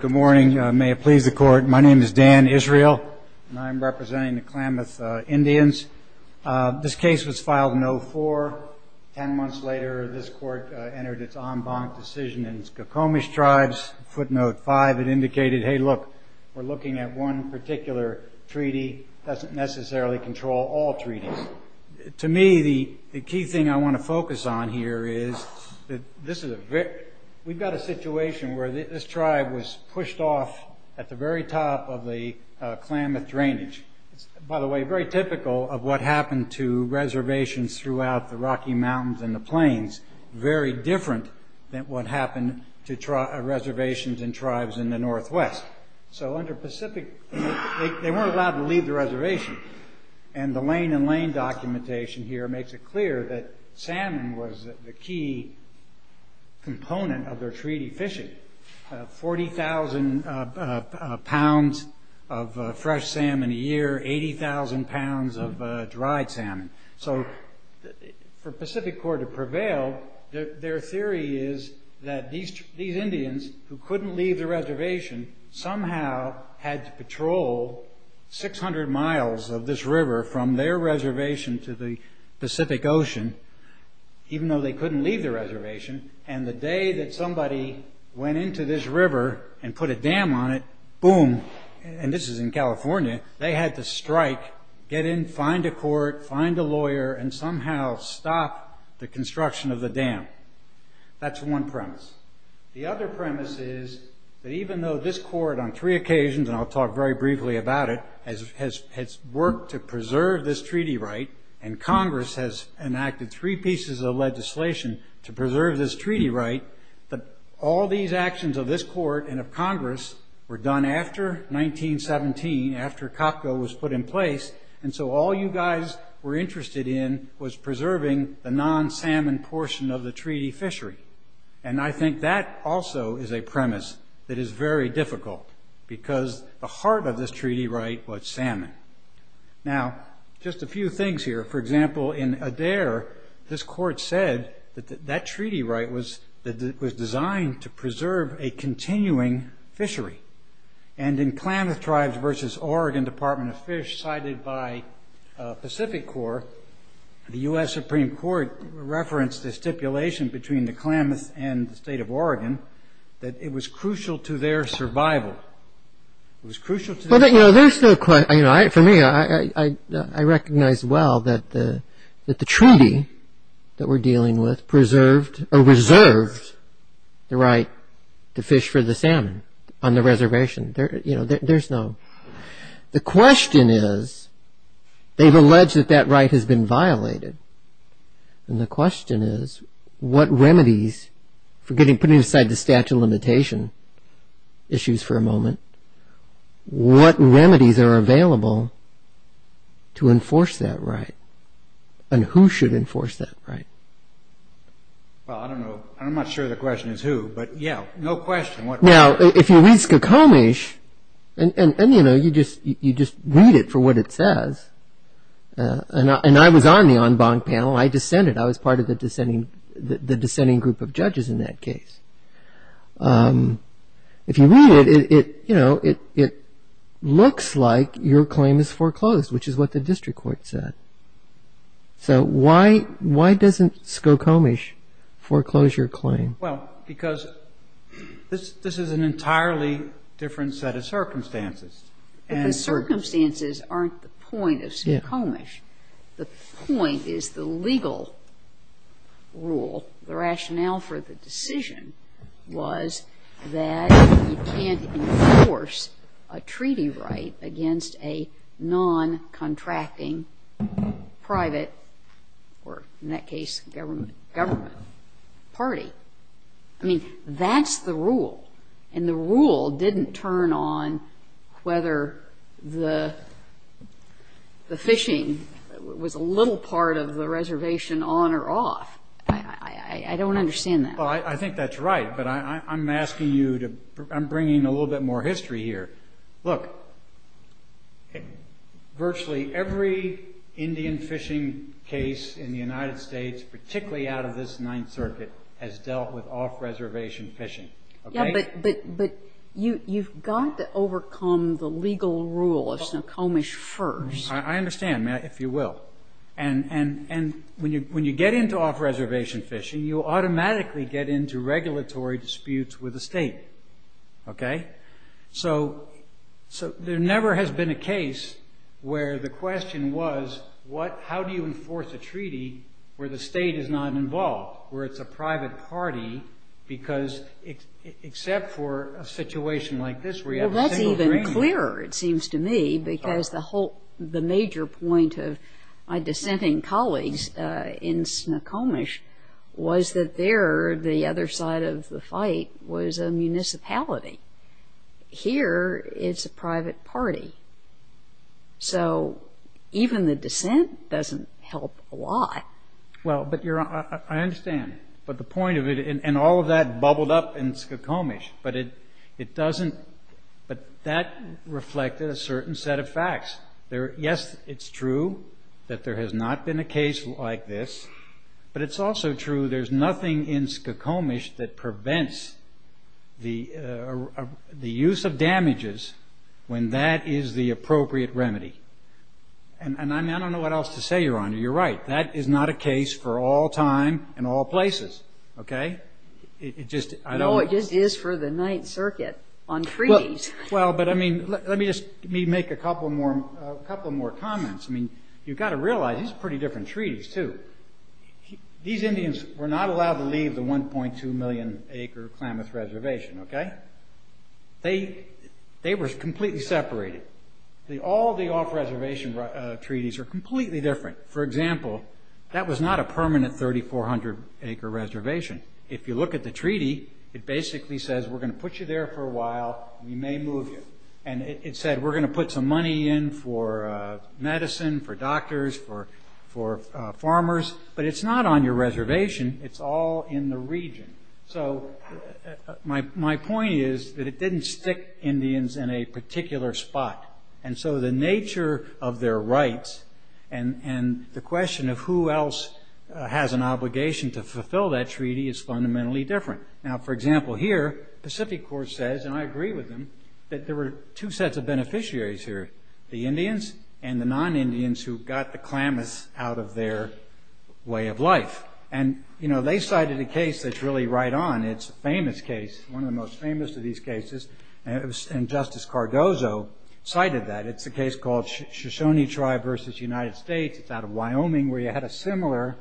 Good morning. May it please the Court. My name is Dan Israel, and I'm representing the Klamath Indians. This case was filed in 2004. Ten months later, this Court entered its en banc decision in Skokomish Tribes. Footnote 5, it indicated, hey, look, we're looking at one particular treaty. It doesn't necessarily control all treaties. To me, the key thing I want to focus on here is that we've got a situation where this tribe was pushed off at the very top of the Klamath drainage. It's, by the way, very typical of what happened to reservations throughout the Rocky Mountains and the plains, very different than what happened to reservations and tribes in the Northwest. They weren't allowed to leave the reservation, and the Lane and Lane documentation here makes it clear that salmon was the key component of their treaty fishing. 40,000 pounds of fresh salmon a year, 80,000 pounds of dried salmon. For PacificCorp to prevail, their theory is that these Indians, who couldn't leave the reservation, somehow had to patrol 600 miles of this river from their reservation to the Pacific Ocean, even though they couldn't leave the reservation. The day that somebody went into this river and put a dam on it, boom, and this is in California, they had to strike, get in, find a court, find a lawyer, and somehow stop the construction of the dam. That's one premise. The other premise is that even though this court on three occasions, and I'll talk very briefly about it, has worked to preserve this treaty right, and Congress has enacted three pieces of legislation to preserve this treaty right, all these actions of this court and of Congress were done after 1917, after COPCO was put in place, and so all you guys were interested in was preserving the non-salmon portion of the treaty fishery. I think that also is a premise that is very difficult, because the heart of this treaty right was salmon. Now, just a few things here. For example, in Adair, this court said that that treaty right was designed to preserve a continuing fishery, and in Klamath Tribes v. Oregon Department of Fish, cited by Pacific Corps, the U.S. Supreme Court referenced the stipulation between the Klamath and the state of Oregon that it was crucial to their survival. It was crucial to their survival. There's no question. For me, I recognize well that the treaty that we're dealing with preserved or reserved the right to fish for the salmon on the reservation. There's no... The question is, they've alleged that that right has been violated, and the question is, what remedies, putting aside the statute of limitation issues for a moment, what remedies are available to enforce that right, and who should enforce that right? Well, I don't know. I'm not sure the question is who, but yeah, no question. Now, if you read Skokomish, and you know, you just read it for what it says, and I was on the en banc panel. I dissented. I was part of the dissenting group of judges in that case. If you read it, it looks like your claim is foreclosed, which is what the district court said. So why doesn't Skokomish foreclose your claim? But the circumstances aren't the point of Skokomish. The point is the legal rule, the rationale for the decision, was that you can't enforce a treaty right against a non-contracting private, or in that case government, party. I mean, that's the rule. And the rule didn't turn on whether the fishing was a little part of the reservation on or off. I don't understand that. Well, I think that's right, but I'm bringing a little bit more history here. Look, virtually every Indian fishing case in the United States, particularly out of this Ninth Circuit, has dealt with off-reservation fishing. Yeah, but you've got to overcome the legal rule of Skokomish first. I understand, if you will. And when you get into off-reservation fishing, you automatically get into regulatory disputes with the state. Okay? So there never has been a case where the question was, how do you enforce a treaty where the state is not involved, where it's a private party, except for a situation like this where you have a single agreement. Well, that's even clearer, it seems to me, because the major point of my dissenting colleagues in Skokomish was that there, the other side of the fight, was a municipality. Here, it's a private party. So even the dissent doesn't help a lot. Well, but I understand. But the point of it, and all of that bubbled up in Skokomish, but that reflected a certain set of facts. Yes, it's true that there has not been a case like this, but it's also true there's nothing in Skokomish that prevents the use of damages when that is the appropriate remedy. And I don't know what else to say, Your Honor. You're right. That is not a case for all time and all places, okay? No, it just is for the Ninth Circuit on treaties. Well, but let me just make a couple more comments. I mean, you've got to realize these are pretty different treaties, too. These Indians were not allowed to leave the 1.2 million acre Klamath Reservation, okay? They were completely separated. All the off-reservation treaties are completely different. For example, that was not a permanent 3,400 acre reservation. If you look at the treaty, it basically says we're going to put you there for a while. We may move you. And it said we're going to put some money in for medicine, for doctors, for farmers. But it's not on your reservation. It's all in the region. So my point is that it didn't stick Indians in a particular spot. And so the nature of their rights and the question of who else has an obligation to fulfill that treaty is fundamentally different. Now, for example, here, Pacific Corps says, and I agree with them, that there were two sets of beneficiaries here, the Indians and the non-Indians who got the Klamath out of their way of life. And, you know, they cited a case that's really right on. It's a famous case, one of the most famous of these cases. And Justice Cardozo cited that. It's a case called Shoshone Tribe versus United States. It's out of Wyoming where you had a similar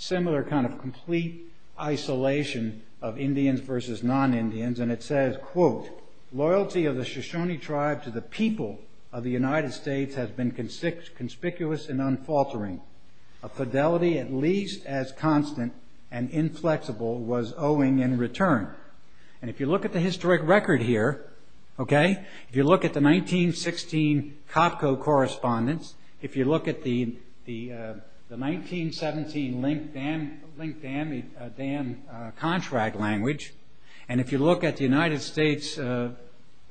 kind of complete isolation of Indians versus non-Indians. And it says, quote, Loyalty of the Shoshone Tribe to the people of the United States has been conspicuous and unfaltering. A fidelity at least as constant and inflexible was owing in return. And if you look at the historic record here, okay, if you look at the 1916 COPCO correspondence, if you look at the 1917 Link Dam contract language, and if you look at the United States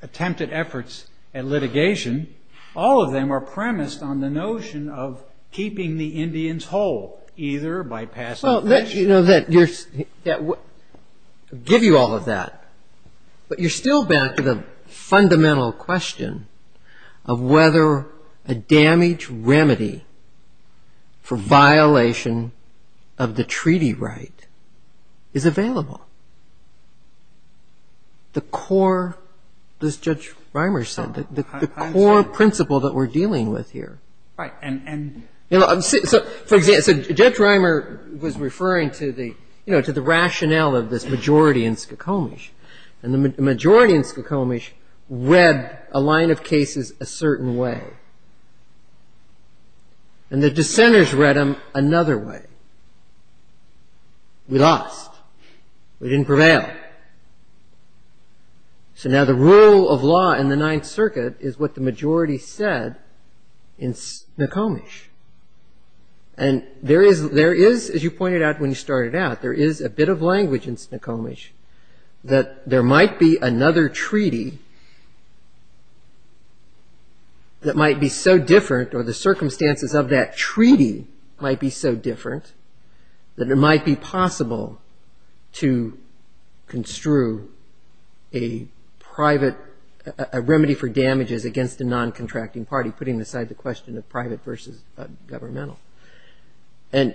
attempted efforts at litigation, all of them are premised on the notion of keeping the Indians whole, either by passing legislation. I'll give you all of that. But you're still back to the fundamental question of whether a damage remedy for violation of the treaty right is available. The core, as Judge Reimer said, the core principle that we're dealing with here. So Judge Reimer was referring to the rationale of this majority in Skokomish. And the majority in Skokomish read a line of cases a certain way. And the dissenters read them another way. We lost. We didn't prevail. So now the rule of law in the Ninth Circuit is what the majority said in Skokomish. And there is, as you pointed out when you started out, there is a bit of language in Skokomish that there might be another treaty that might be so different, or the circumstances of that treaty might be so different, that it might be possible to construe a remedy for damages against a non-contracting party, putting aside the question of private versus governmental. And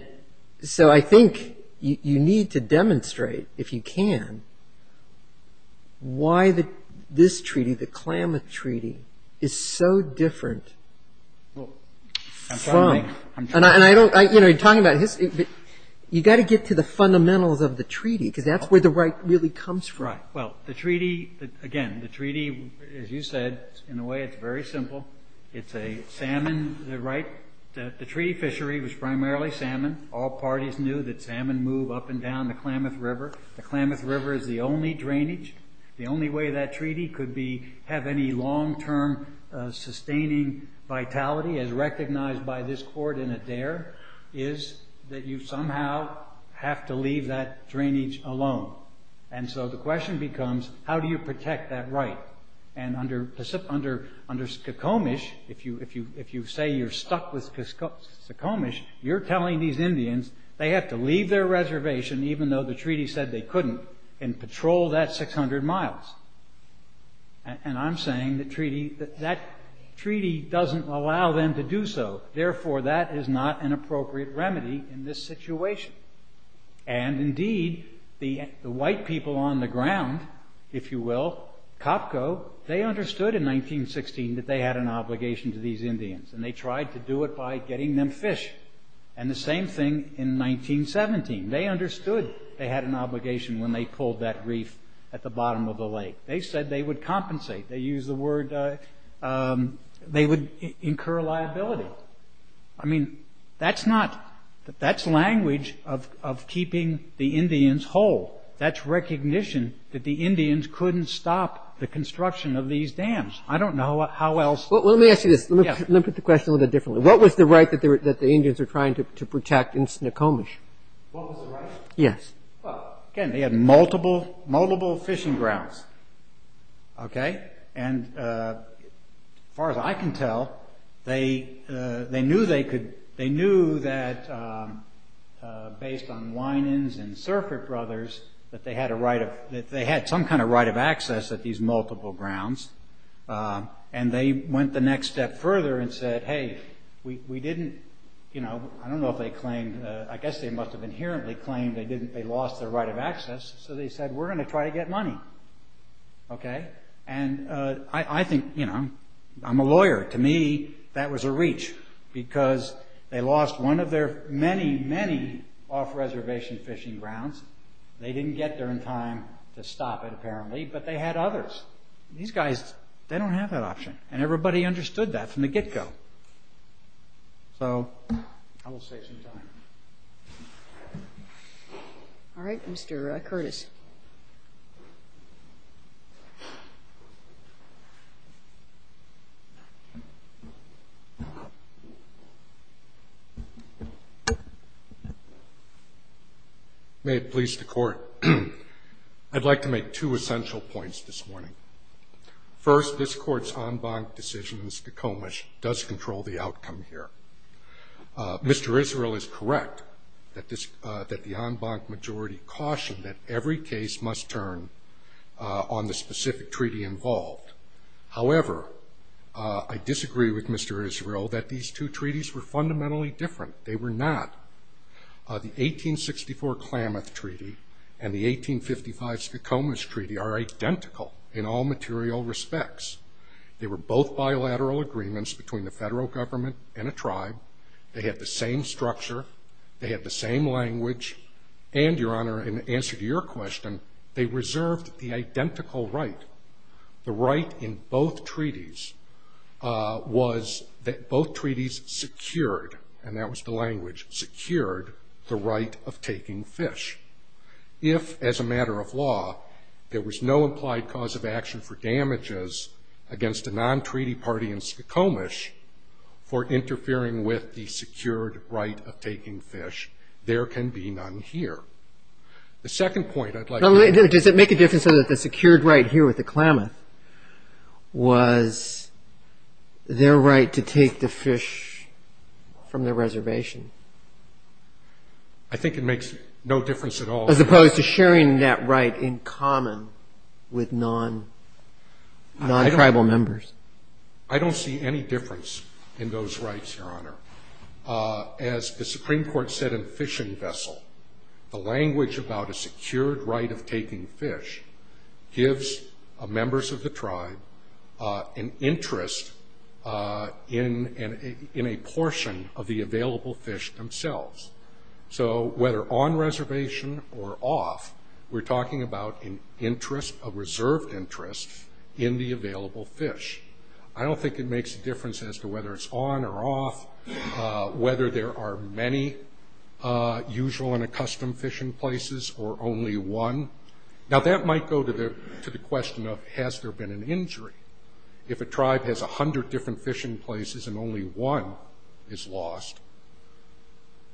so I think you need to demonstrate, if you can, why this treaty, the Klamath Treaty, is so different. You've got to get to the fundamentals of the treaty, because that's where the right really comes from. Right. Well, the treaty, again, the treaty, as you said, in a way it's very simple. It's a salmon, right? The treaty fishery was primarily salmon. All parties knew that salmon move up and down the Klamath River. The Klamath River is the only drainage. The only way that treaty could have any long-term sustaining vitality, as recognized by this court in Adair, is that you somehow have to leave that drainage alone. And so the question becomes, how do you protect that right? And under Skokomish, if you say you're stuck with Skokomish, you're telling these Indians they have to leave their reservation, even though the treaty said they couldn't, and patrol that 600 miles. And I'm saying that treaty doesn't allow them to do so. Therefore, that is not an appropriate remedy in this situation. And indeed, the white people on the ground, if you will, Copco, they understood in 1916 that they had an obligation to these Indians. And they tried to do it by getting them fish. And the same thing in 1917. They understood they had an obligation when they pulled that reef at the bottom of the lake. They said they would compensate. They used the word, they would incur liability. I mean, that's not, that's language of keeping the Indians whole. That's recognition that the Indians couldn't stop the construction of these dams. I don't know how else. Well, let me ask you this. Let me put the question a little bit differently. What was the right that the Indians were trying to protect in Skokomish? What was the right? Yes. Well, again, they had multiple fishing grounds. Okay? And as far as I can tell, they knew they could, they knew that based on Winans and Surfrit Brothers that they had a right of, that they had some kind of right of access at these multiple grounds. And they went the next step further and said, hey, we didn't, you know, I don't know if they claimed, I guess they must have inherently claimed they didn't, they lost their right of access. So they said, we're going to try to get money. Okay? And I think, you know, I'm a lawyer. To me, that was a reach because they lost one of their many, many off-reservation fishing grounds. They didn't get there in time to stop it, apparently, but they had others. These guys, they don't have that option. And everybody understood that from the get-go. So, I will save some time. All right. Mr. Curtis. May it please the Court. I'd like to make two essential points this morning. First, this Court's en banc decision in Skokomish does control the outcome here. Mr. Israel is correct that the en banc majority cautioned that every case must turn on the specific treaty involved. However, I disagree with Mr. Israel that these two treaties were fundamentally different. They were not. The 1864 Klamath Treaty and the 1855 Skokomish Treaty are identical in all material respects. They were both bilateral agreements between the federal government and a tribe. They had the same structure. They had the same language. And, Your Honor, in answer to your question, they reserved the identical right. The right in both treaties was that both treaties secured, and that was the language, secured the right of taking fish. If, as a matter of law, there was no implied cause of action for damages against a non-treaty party in Skokomish for interfering with the secured right of taking fish, there can be none here. The second point I'd like to make. Does it make a difference that the secured right here with the Klamath was their right to take the fish from the reservation? I think it makes no difference at all. As opposed to sharing that right in common with non-tribal members. I don't see any difference in those rights, Your Honor. As the Supreme Court said in Fishing Vessel, the language about a secured right of taking fish gives members of the tribe an interest in a portion of the available fish themselves. So, whether on reservation or off, we're talking about an interest, a reserved interest, in the available fish. I don't think it makes a difference as to whether it's on or off. Whether there are many usual and accustomed fishing places or only one. Now, that might go to the question of has there been an injury. If a tribe has 100 different fishing places and only one is lost,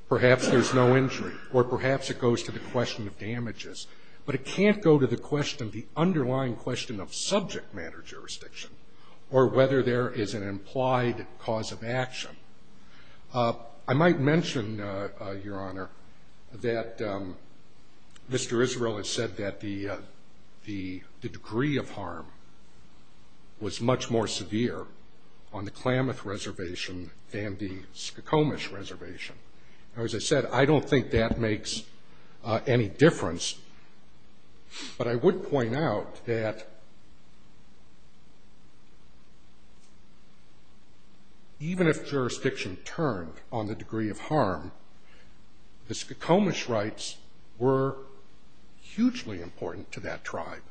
perhaps there's no injury. Or perhaps it goes to the question of damages. But it can't go to the underlying question of subject matter jurisdiction or whether there is an implied cause of action. I might mention, Your Honor, that Mr. Israel has said that the degree of harm was much more severe on the Klamath Reservation than the Skokomish Reservation. Now, as I said, I don't think that makes any difference. But I would point out that even if jurisdiction turned on the degree of harm, the Skokomish rights were hugely important to that tribe.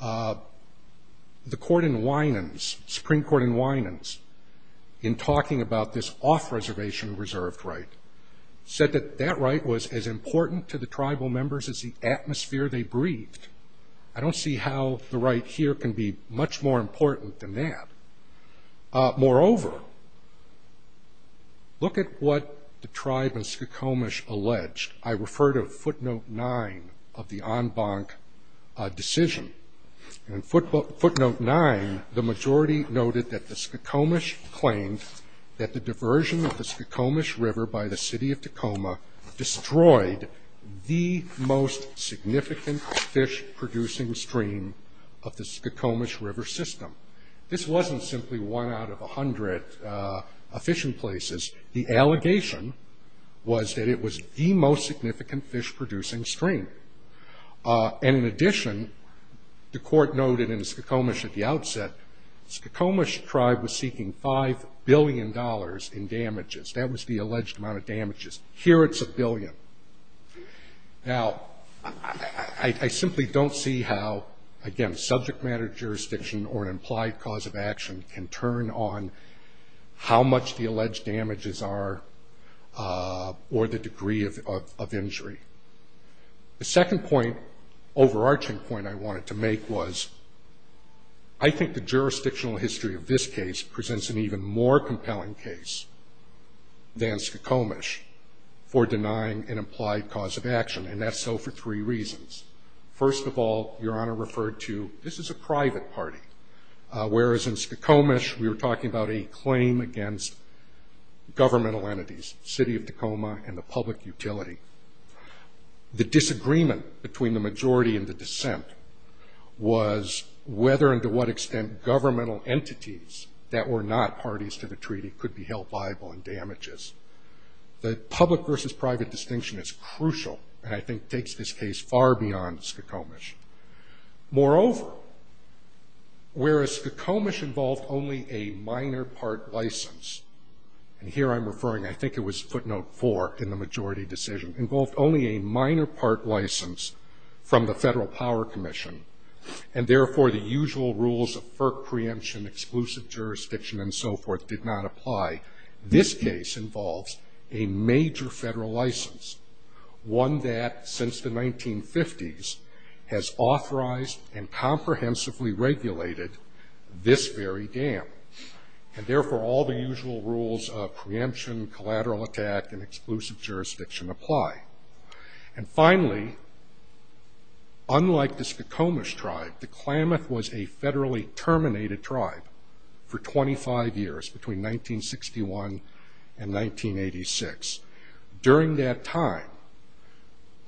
The court in Winans, Supreme Court in Winans, in talking about this off-reservation reserved right, said that that right was as important to the tribal members as the atmosphere they breathed. I don't see how the right here can be much more important than that. Moreover, look at what the tribe in Skokomish alleged. I refer to footnote nine of the en banc decision. In footnote nine, the majority noted that the Skokomish claimed that the diversion of the Skokomish River by the city of Tacoma destroyed the most significant fish-producing stream of the Skokomish River system. This wasn't simply one out of a hundred fishing places. The allegation was that it was the most significant fish-producing stream. And in addition, the court noted in Skokomish at the outset, Skokomish tribe was seeking $5 billion in damages. That was the alleged amount of damages. Here it's a billion. Now, I simply don't see how, again, subject matter jurisdiction or an implied cause of action can turn on how much the alleged damages are or the degree of injury. The second point, overarching point I wanted to make was I think the jurisdictional history of this case presents an even more compelling case than Skokomish for denying an implied cause of action. And that's so for three reasons. First of all, Your Honor referred to this is a private party, whereas in Skokomish we were talking about a claim against governmental entities, city of Tacoma and the public utility. The disagreement between the majority and the dissent was whether and to what extent governmental entities that were not parties to the treaty could be held liable in damages. The public versus private distinction is crucial and I think takes this case far beyond Skokomish. Moreover, whereas Skokomish involved only a minor part license, and here I'm referring, I think it was footnote four in the majority decision, involved only a minor part license from the Federal Power Commission, and therefore the usual rules of FERC preemption, exclusive jurisdiction, and so forth, did not apply. This case involves a major federal license, one that since the 1950s has authorized and comprehensively regulated this very dam. And therefore all the usual rules of preemption, collateral attack, and exclusive jurisdiction apply. And finally, unlike the Skokomish tribe, the Klamath was a federally terminated tribe for 25 years, between 1961 and 1986. During that time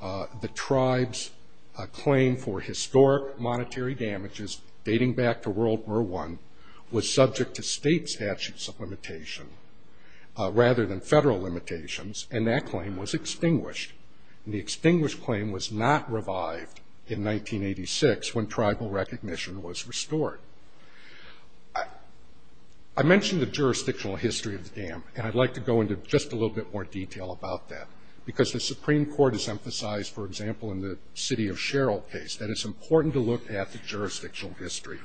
the tribe's claim for historic monetary damages dating back to World War I was subject to state statutes of limitation rather than federal limitations, and that claim was extinguished. And the extinguished claim was not revived in 1986 when tribal recognition was restored. I mentioned the jurisdictional history of the dam, and I'd like to go into just a little bit more detail about that. Because the Supreme Court has emphasized, for example, in the City of Sherald case, that it's important to look at the jurisdictional history.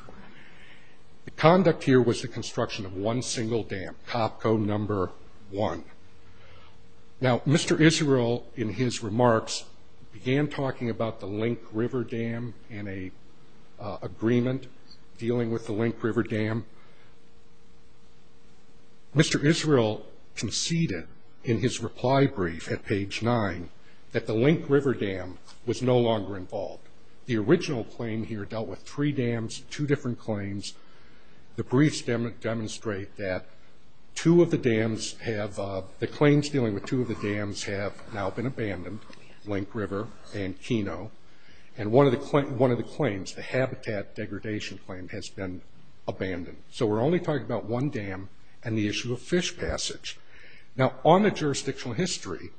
The conduct here was the construction of one single dam, Topco No. 1. Now, Mr. Israel, in his remarks, began talking about the Link River Dam and an agreement dealing with the Link River Dam. Mr. Israel conceded in his reply brief at page 9 that the Link River Dam was no longer involved. The original claim here dealt with three dams, two different claims. The briefs demonstrate that the claims dealing with two of the dams have now been abandoned, Link River and Keno. And one of the claims, the habitat degradation claim, has been abandoned. So we're only talking about one dam and the issue of fish passage. Now, on the jurisdictional history,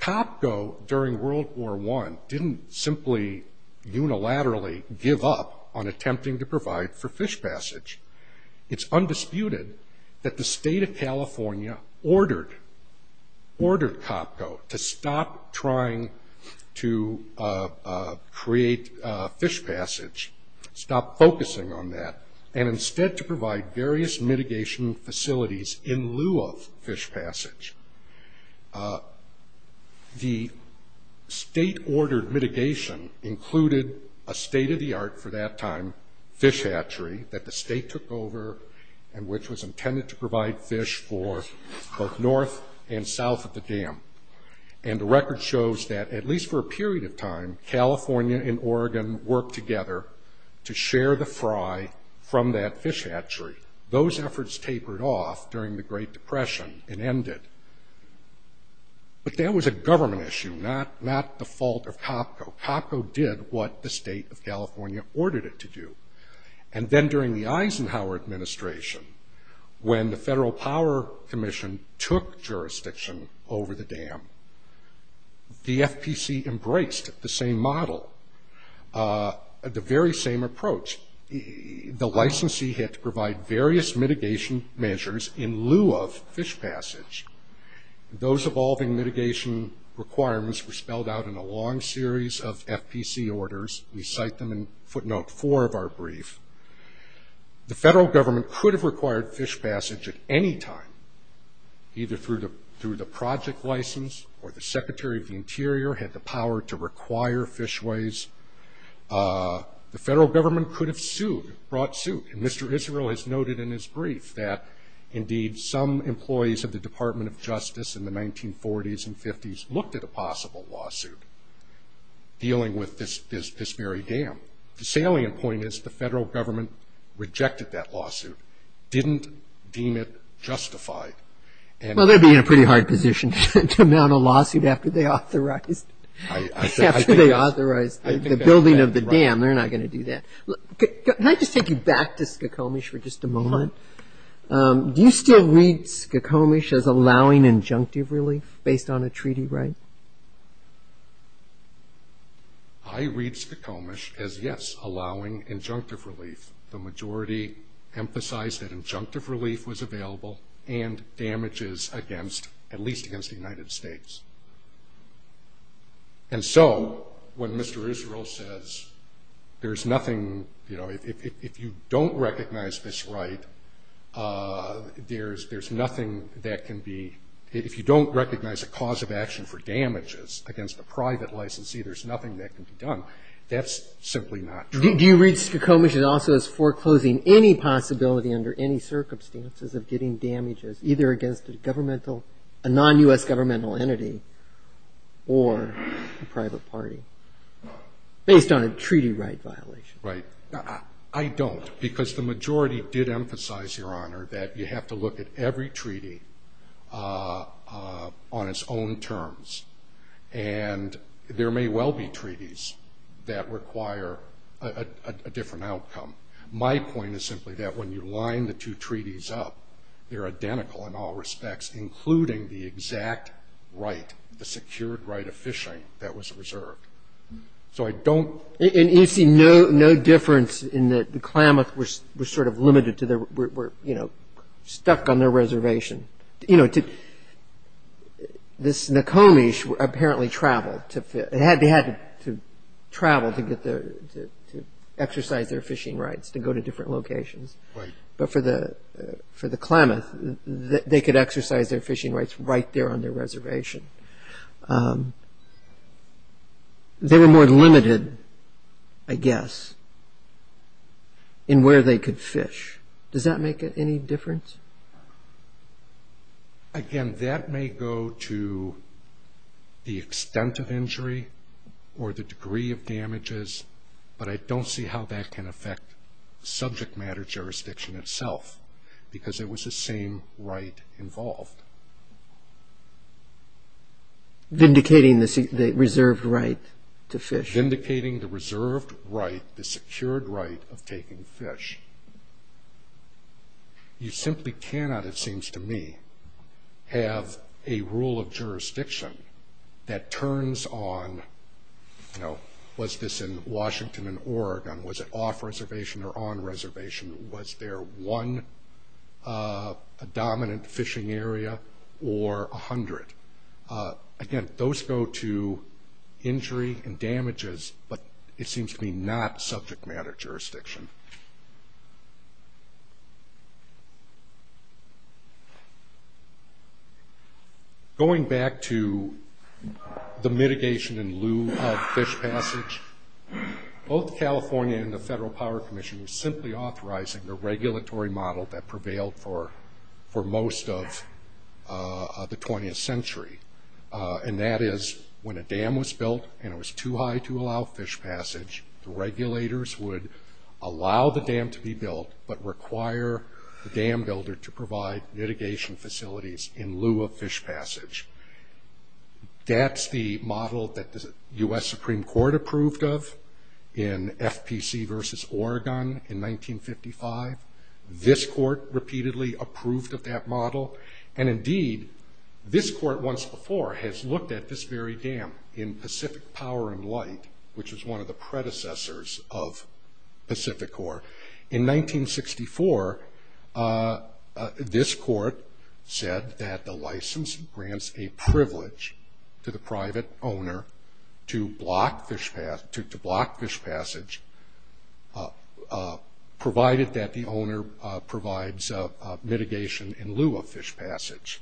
Topco, during World War I, didn't simply unilaterally give up on attempting to provide for fish passage. It's undisputed that the State of California ordered Topco to stop trying to create fish passage, stop focusing on that, and instead to provide various mitigation facilities in lieu of fish passage. The State-ordered mitigation included a state-of-the-art, for that time, fish hatchery that the State took over, and which was intended to provide fish for both north and south of the dam. And the record shows that, at least for a period of time, California and Oregon worked together to share the fry, from that fish hatchery. Those efforts tapered off during the Great Depression and ended. But that was a government issue, not the fault of Topco. Topco did what the State of California ordered it to do. And then during the Eisenhower administration, when the Federal Power Commission took jurisdiction over the dam, the FPC embraced the same model, the very same approach. The licensee had to provide various mitigation measures in lieu of fish passage. Those evolving mitigation requirements were spelled out in a long series of FPC orders. We cite them in footnote four of our brief. The federal government could have required fish passage at any time, either through the project license, or the Secretary of the Interior had the power to require fishways. The federal government could have sued, brought suit. And Mr. Israel has noted in his brief that, indeed, some employees of the Department of Justice in the 1940s and 50s looked at a possible lawsuit dealing with this very dam. The salient point is the federal government rejected that lawsuit, didn't deem it justified. Well, they'd be in a pretty hard position to mount a lawsuit after they authorized the building of the dam. They're not going to do that. Can I just take you back to Skokomish for just a moment? Do you still read Skokomish as allowing injunctive relief based on a treaty right? I read Skokomish as, yes, allowing injunctive relief. The majority emphasized that injunctive relief was available and damages against, at least against the United States. And so when Mr. Israel says there's nothing, you know, if you don't recognize this right, there's nothing that can be, if you don't recognize a cause of action for damages against a private licensee, there's nothing that can be done, that's simply not true. Do you read Skokomish also as foreclosing any possibility under any circumstances of getting damages, either against a governmental, a non-U.S. governmental entity or a private party, based on a treaty right violation? Right. I don't, because the majority did emphasize, Your Honor, that you have to look at every treaty on its own terms. And there may well be treaties that require a different outcome. My point is simply that when you line the two treaties up, they're identical in all respects, including the exact right, the secured right of fishing that was reserved. So I don't... And you see no difference in that the Klamath were sort of limited to their, were, you know, stuck on their reservation. You know, this Nokomish apparently traveled to, they had to travel to exercise their fishing rights to go to different locations. Right. But for the Klamath, they could exercise their fishing rights right there on their reservation. They were more limited, I guess, in where they could fish. Does that make any difference? Again, that may go to the extent of injury or the degree of damages, but I don't see how that can affect subject matter jurisdiction itself, because it was the same right involved. Vindicating the reserved right to fish. Vindicating the reserved right, the secured right of taking fish. You simply cannot, it seems to me, have a rule of jurisdiction that turns on, you know, was this in Washington and Oregon? Was it off reservation or on reservation? Was there one dominant fishing area or 100? Again, those go to injury and damages, but it seems to me not subject matter jurisdiction. Going back to the mitigation in lieu of fish passage, both California and the Federal Power Commission were simply authorizing a regulatory model that prevailed for most of the 20th century, and that is when a dam was built and it was too high to allow fish passage, the regulators would allow the dam to be built, but require the dam builder to provide mitigation facilities in lieu of fish passage. That's the model that the U.S. Supreme Court approved of in FPC versus Oregon in 1955. This court repeatedly approved of that model, and indeed, this court once before has looked at this very dam in Pacific Power and Light, which is one of the predecessors of Pacific Core. In 1964, this court said that the license grants a privilege to the private owner to block fish passage, provided that the owner provides mitigation in lieu of fish passage.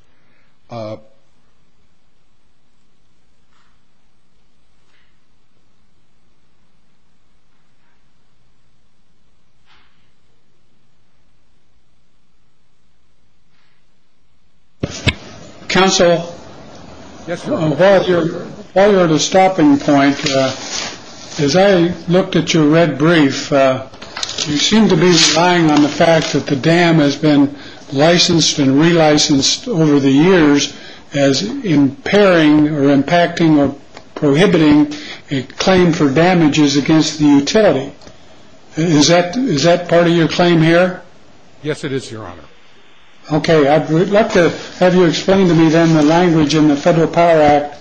Counsel? While you're at a stopping point, as I looked at your red brief, you seem to be relying on the fact that the dam has been licensed and relicensed over the years as impairing or impacting or prohibiting a claim for damages against the utility. Is that part of your claim here? Yes, it is, Your Honor. Okay, I'd like to have you explain to me then the language in the Federal Power Act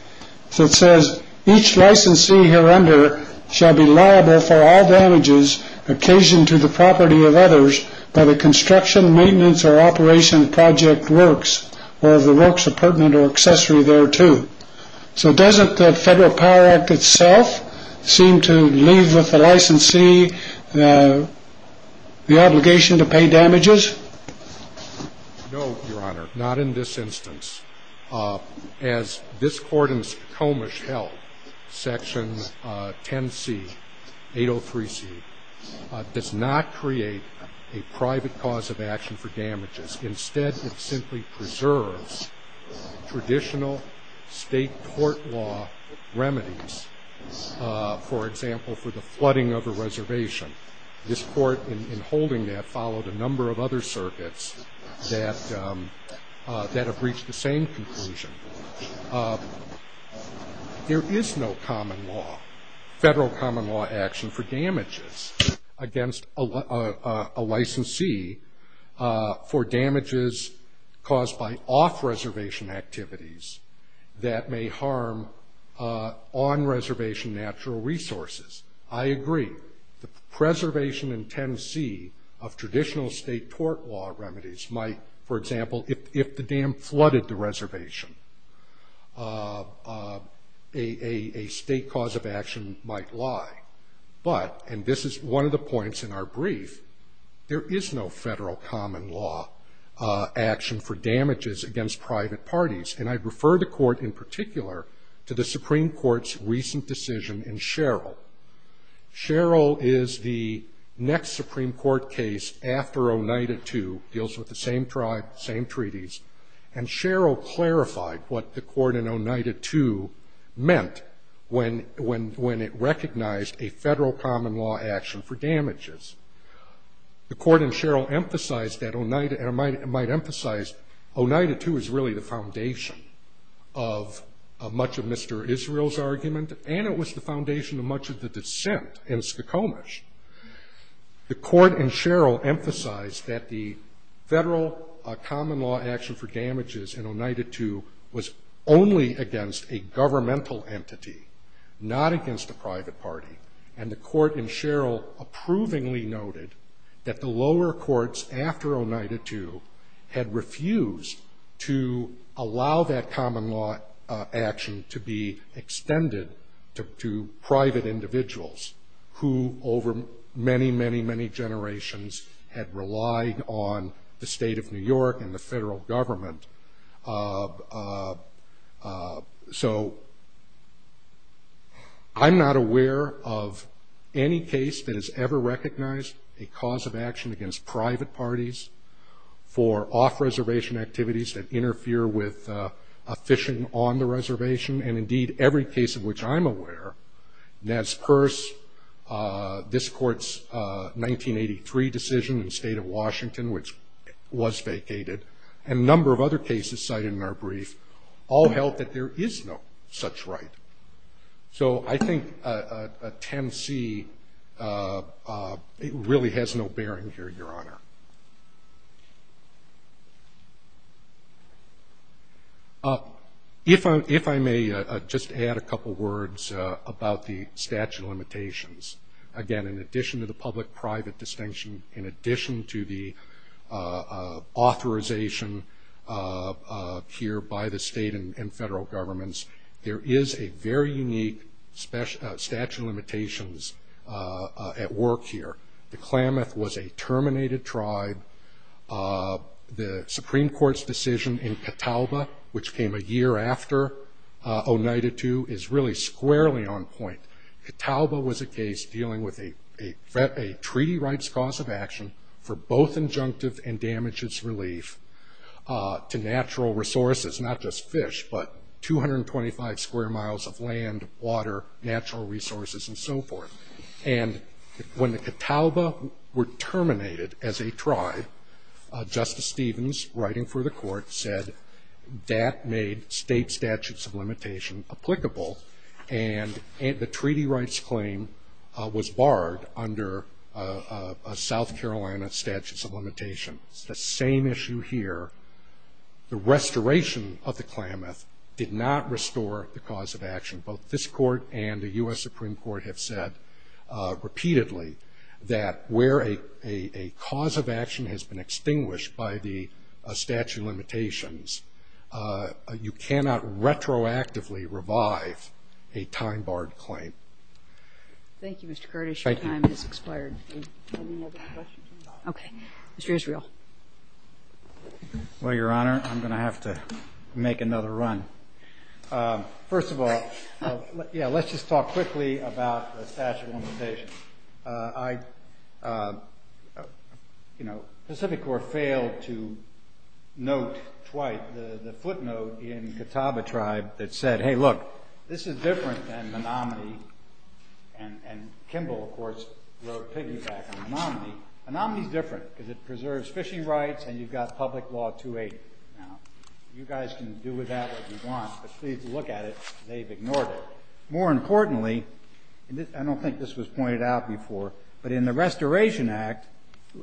that says each licensee here under shall be liable for all damages occasioned to the property of others by the construction, maintenance, or operation of project works or of the works of pertinent or accessory thereto. So doesn't the Federal Power Act itself seem to leave with the licensee the obligation to pay damages? No, Your Honor, not in this instance. As this Court in Spokomish held, Section 10C, 803C, does not create a private cause of action for damages. Instead, it simply preserves traditional state court law remedies, for example, for the flooding of a reservation. This Court, in holding that, followed a number of other circuits that have reached the same conclusion. There is no federal common law action for damages against a licensee for damages caused by off-reservation activities that may harm on-reservation natural resources. I agree. The preservation in 10C of traditional state court law remedies might, for example, if the dam flooded the reservation, a state cause of action might lie. But, and this is one of the points in our brief, there is no federal common law action for damages against private parties, and I refer the Court in particular to the Supreme Court's recent decision in Sherrill. Sherrill is the next Supreme Court case after Oneida II, deals with the same tribe, same treaties, and Sherrill clarified what the Court in Oneida II meant when it recognized a federal common law action for damages. The Court in Sherrill emphasized that Oneida, and I might emphasize, Oneida II is really the foundation of much of Mr. Israel's argument, and it was the foundation of much of the dissent in Skokomish. The Court in Sherrill emphasized that the federal common law action for damages in Oneida II was only against a governmental entity, not against a private party, and the Court in Sherrill approvingly noted that the lower courts after Oneida II had refused to allow that common law action to be extended to private individuals who over many, many, many generations had relied on the state of New York and the federal government. So, I'm not aware of any case that has ever recognized a cause of action against private parties for off-reservation activities that interfere with a fishing on the reservation, and indeed, every case of which I'm aware, that's purse, this Court's 1983 decision in the state of Washington, which was vacated, and a number of other cases cited in our brief, all held that there is no such right. So, I think 10C really has no bearing here, Your Honor. If I may just add a couple words about the statute of limitations. Again, in addition to the public-private distinction, in addition to the authorization here by the state and federal governments, there is a very unique statute of limitations at work here. The Klamath was a terminated tribe. The Supreme Court's decision in Catawba, which came a year after Oneida II, is really squarely on point. Catawba was a case dealing with a treaty rights cause of action for both injunctive and damages relief to natural resources, not just fish, but 225 square miles of land, water, natural resources, and so forth. And when the Catawba were terminated as a tribe, Justice Stevens, writing for the Court, said that made state statutes of limitation applicable, and the treaty rights claim was barred under South Carolina statutes of limitation. It's the same issue here. The restoration of the Klamath did not restore the cause of action. Both this Court and the U.S. Supreme Court have said repeatedly that where a cause of action has been extinguished by the statute of limitations, you cannot retroactively revive a time-barred claim. Thank you, Mr. Curtis. Your time has expired. Okay, Mr. Israel. Well, Your Honor, I'm going to have to make another run. First of all, let's just talk quickly about the statute of limitations. The Pacific Corps failed to note twice the footnote in the Catawba tribe that said, hey, look, this is different than Menominee, and Kimball, of course, wrote a piggyback on Menominee. Menominee is different because it preserves fishing rights, and you've got public law 280. Now, you guys can do with that what you want, but please look at it. They've ignored it. More importantly, and I don't think this was pointed out before, but in the Restoration Act,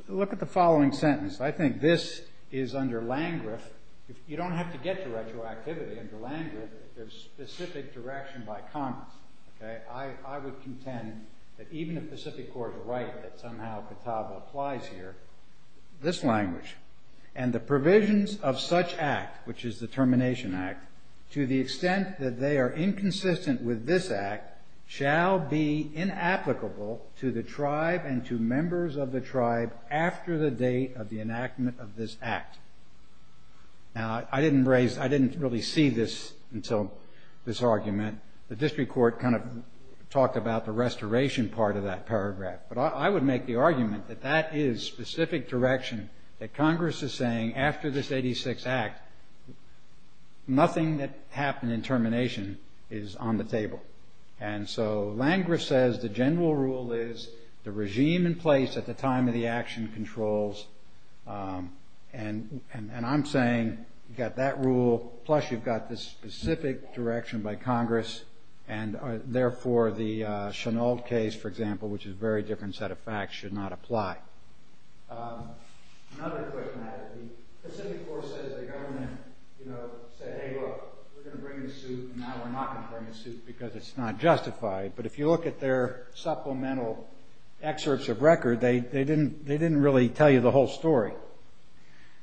look at the following sentence. I think this is under Landgraf. You don't have to get to retroactivity under Landgraf. There's specific direction by comments. I would contend that even if Pacific Corps is right, that somehow Catawba applies here, this language, and the provisions of such act, which is the Termination Act, to the extent that they are inconsistent with this act, shall be inapplicable to the tribe and to members of the tribe after the date of the enactment of this act. Now, I didn't really see this until this argument. The district court kind of talked about the restoration part of that paragraph, but I would make the argument that that is specific direction, that Congress is saying after this 86 Act, nothing that happened in termination is on the table. And so Landgraf says the general rule is the regime in place at the time of the action controls, and I'm saying you've got that rule, plus you've got this specific direction by Congress, and therefore the Chenault case, for example, which is a very different set of facts, should not apply. Another question I have is the Pacific Corps says the government said, hey, look, we're going to bring the suit, and now we're not going to bring the suit because it's not justified. But if you look at their supplemental excerpts of record, they didn't really tell you the whole story.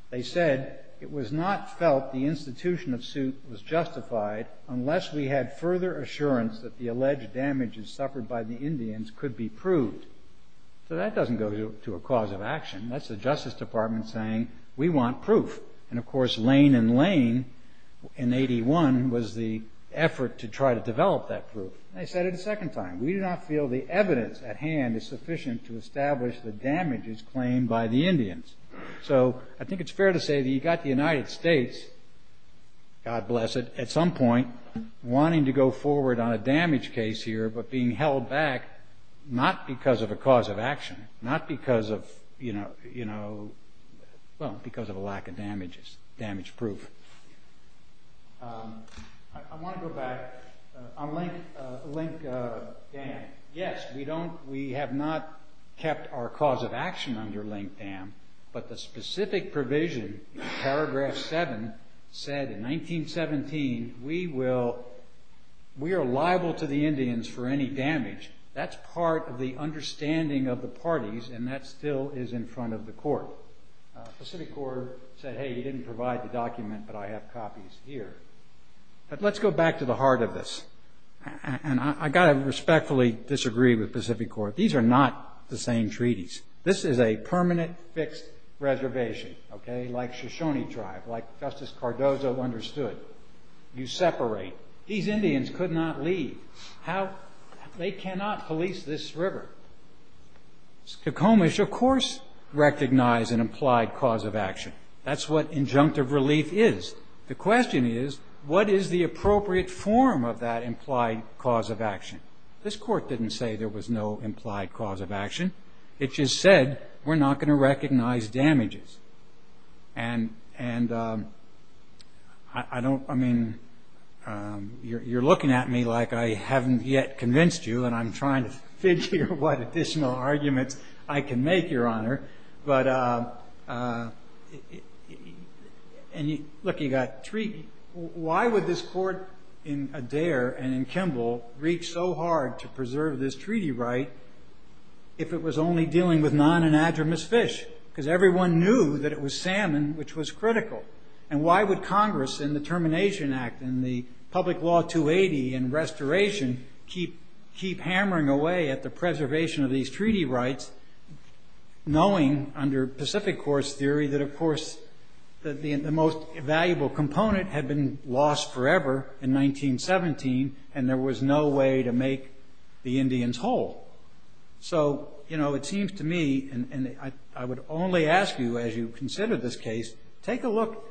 They said it was not felt the institution of suit was justified unless we had further assurance that the alleged damages suffered by the Indians could be proved. So that doesn't go to a cause of action. That's the Justice Department saying we want proof. And, of course, Lane and Lane in 81 was the effort to try to develop that proof. They said it a second time. We do not feel the evidence at hand is sufficient to establish the damages claimed by the Indians. So I think it's fair to say that you've got the United States, God bless it, at some point, wanting to go forward on a damage case here but being held back not because of a cause of action, not because of a lack of damage proof. I want to go back. On Link Dam. Yes, we have not kept our cause of action under Link Dam, but the specific provision in paragraph 7 said in 1917, we are liable to the Indians for any damage. That's part of the understanding of the parties, and that still is in front of the court. The city court said, hey, you didn't provide the document, but I have copies here. But let's go back to the heart of this, and I've got to respectfully disagree with Pacific Court. These are not the same treaties. This is a permanent, fixed reservation, like Shoshone Tribe, like Justice Cardozo understood. You separate. These Indians could not leave. They cannot police this river. Skokomish, of course, recognized an implied cause of action. That's what injunctive relief is. The question is, what is the appropriate form of that implied cause of action? This court didn't say there was no implied cause of action. It just said, we're not going to recognize damages. And I don't, I mean, you're looking at me like I haven't yet convinced you, and I'm trying to figure what additional arguments I can make, Your Honor. But look, you've got treaty. Why would this court in Adair and in Kimball reach so hard to preserve this treaty right if it was only dealing with non-anadromous fish? Because everyone knew that it was salmon, which was critical. And why would Congress in the Termination Act and the public law 280 and restoration keep hammering away at the preservation of these treaty rights knowing under Pacific course theory that, of course, the most valuable component had been lost forever in 1917, and there was no way to make the Indians whole? So, you know, it seems to me, and I would only ask you as you consider this case, take a look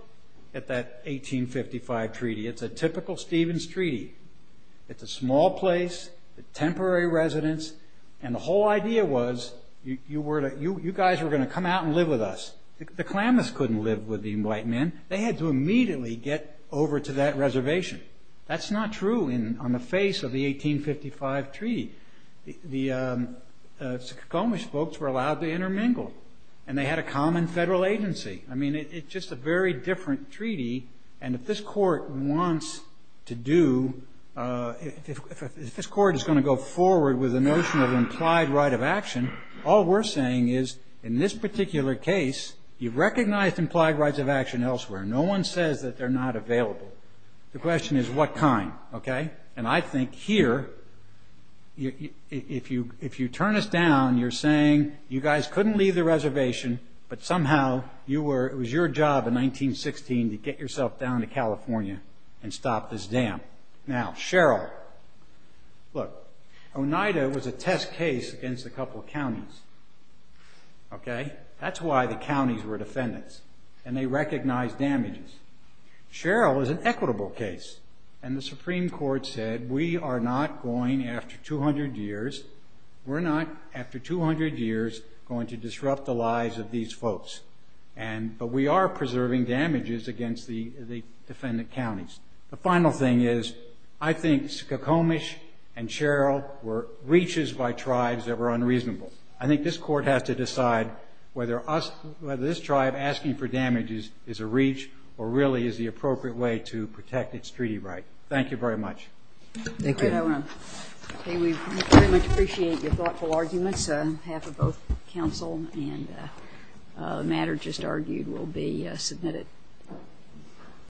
at that 1855 treaty. It's a typical Stevens treaty. It's a small place, temporary residence, and the whole idea was you guys were going to come out and live with us. The Klamaths couldn't live with the white men. They had to immediately get over to that reservation. That's not true on the face of the 1855 treaty. The Suquamish folks were allowed to intermingle, and they had a common federal agency. I mean, it's just a very different treaty, and if this court wants to do, if this court is going to go forward with the notion of implied right of action, all we're saying is in this particular case, you've recognized implied rights of action elsewhere. No one says that they're not available. The question is what kind, okay? And I think here, if you turn us down, you're saying you guys couldn't leave the reservation, and stop this dam. Now, Sherrill. Look, Oneida was a test case against a couple of counties, okay? That's why the counties were defendants, and they recognized damages. Sherrill is an equitable case, and the Supreme Court said we are not going, after 200 years, we're not, after 200 years, going to disrupt the lives of these folks, but we are preserving damages against the defendant counties. The final thing is I think Skokomish and Sherrill were reaches by tribes that were unreasonable. I think this court has to decide whether this tribe asking for damages is a reach or really is the appropriate way to protect its treaty right. Thank you very much. Thank you. I want to say we very much appreciate your thoughtful arguments, and this half of both counsel and the matter just argued will be submitted.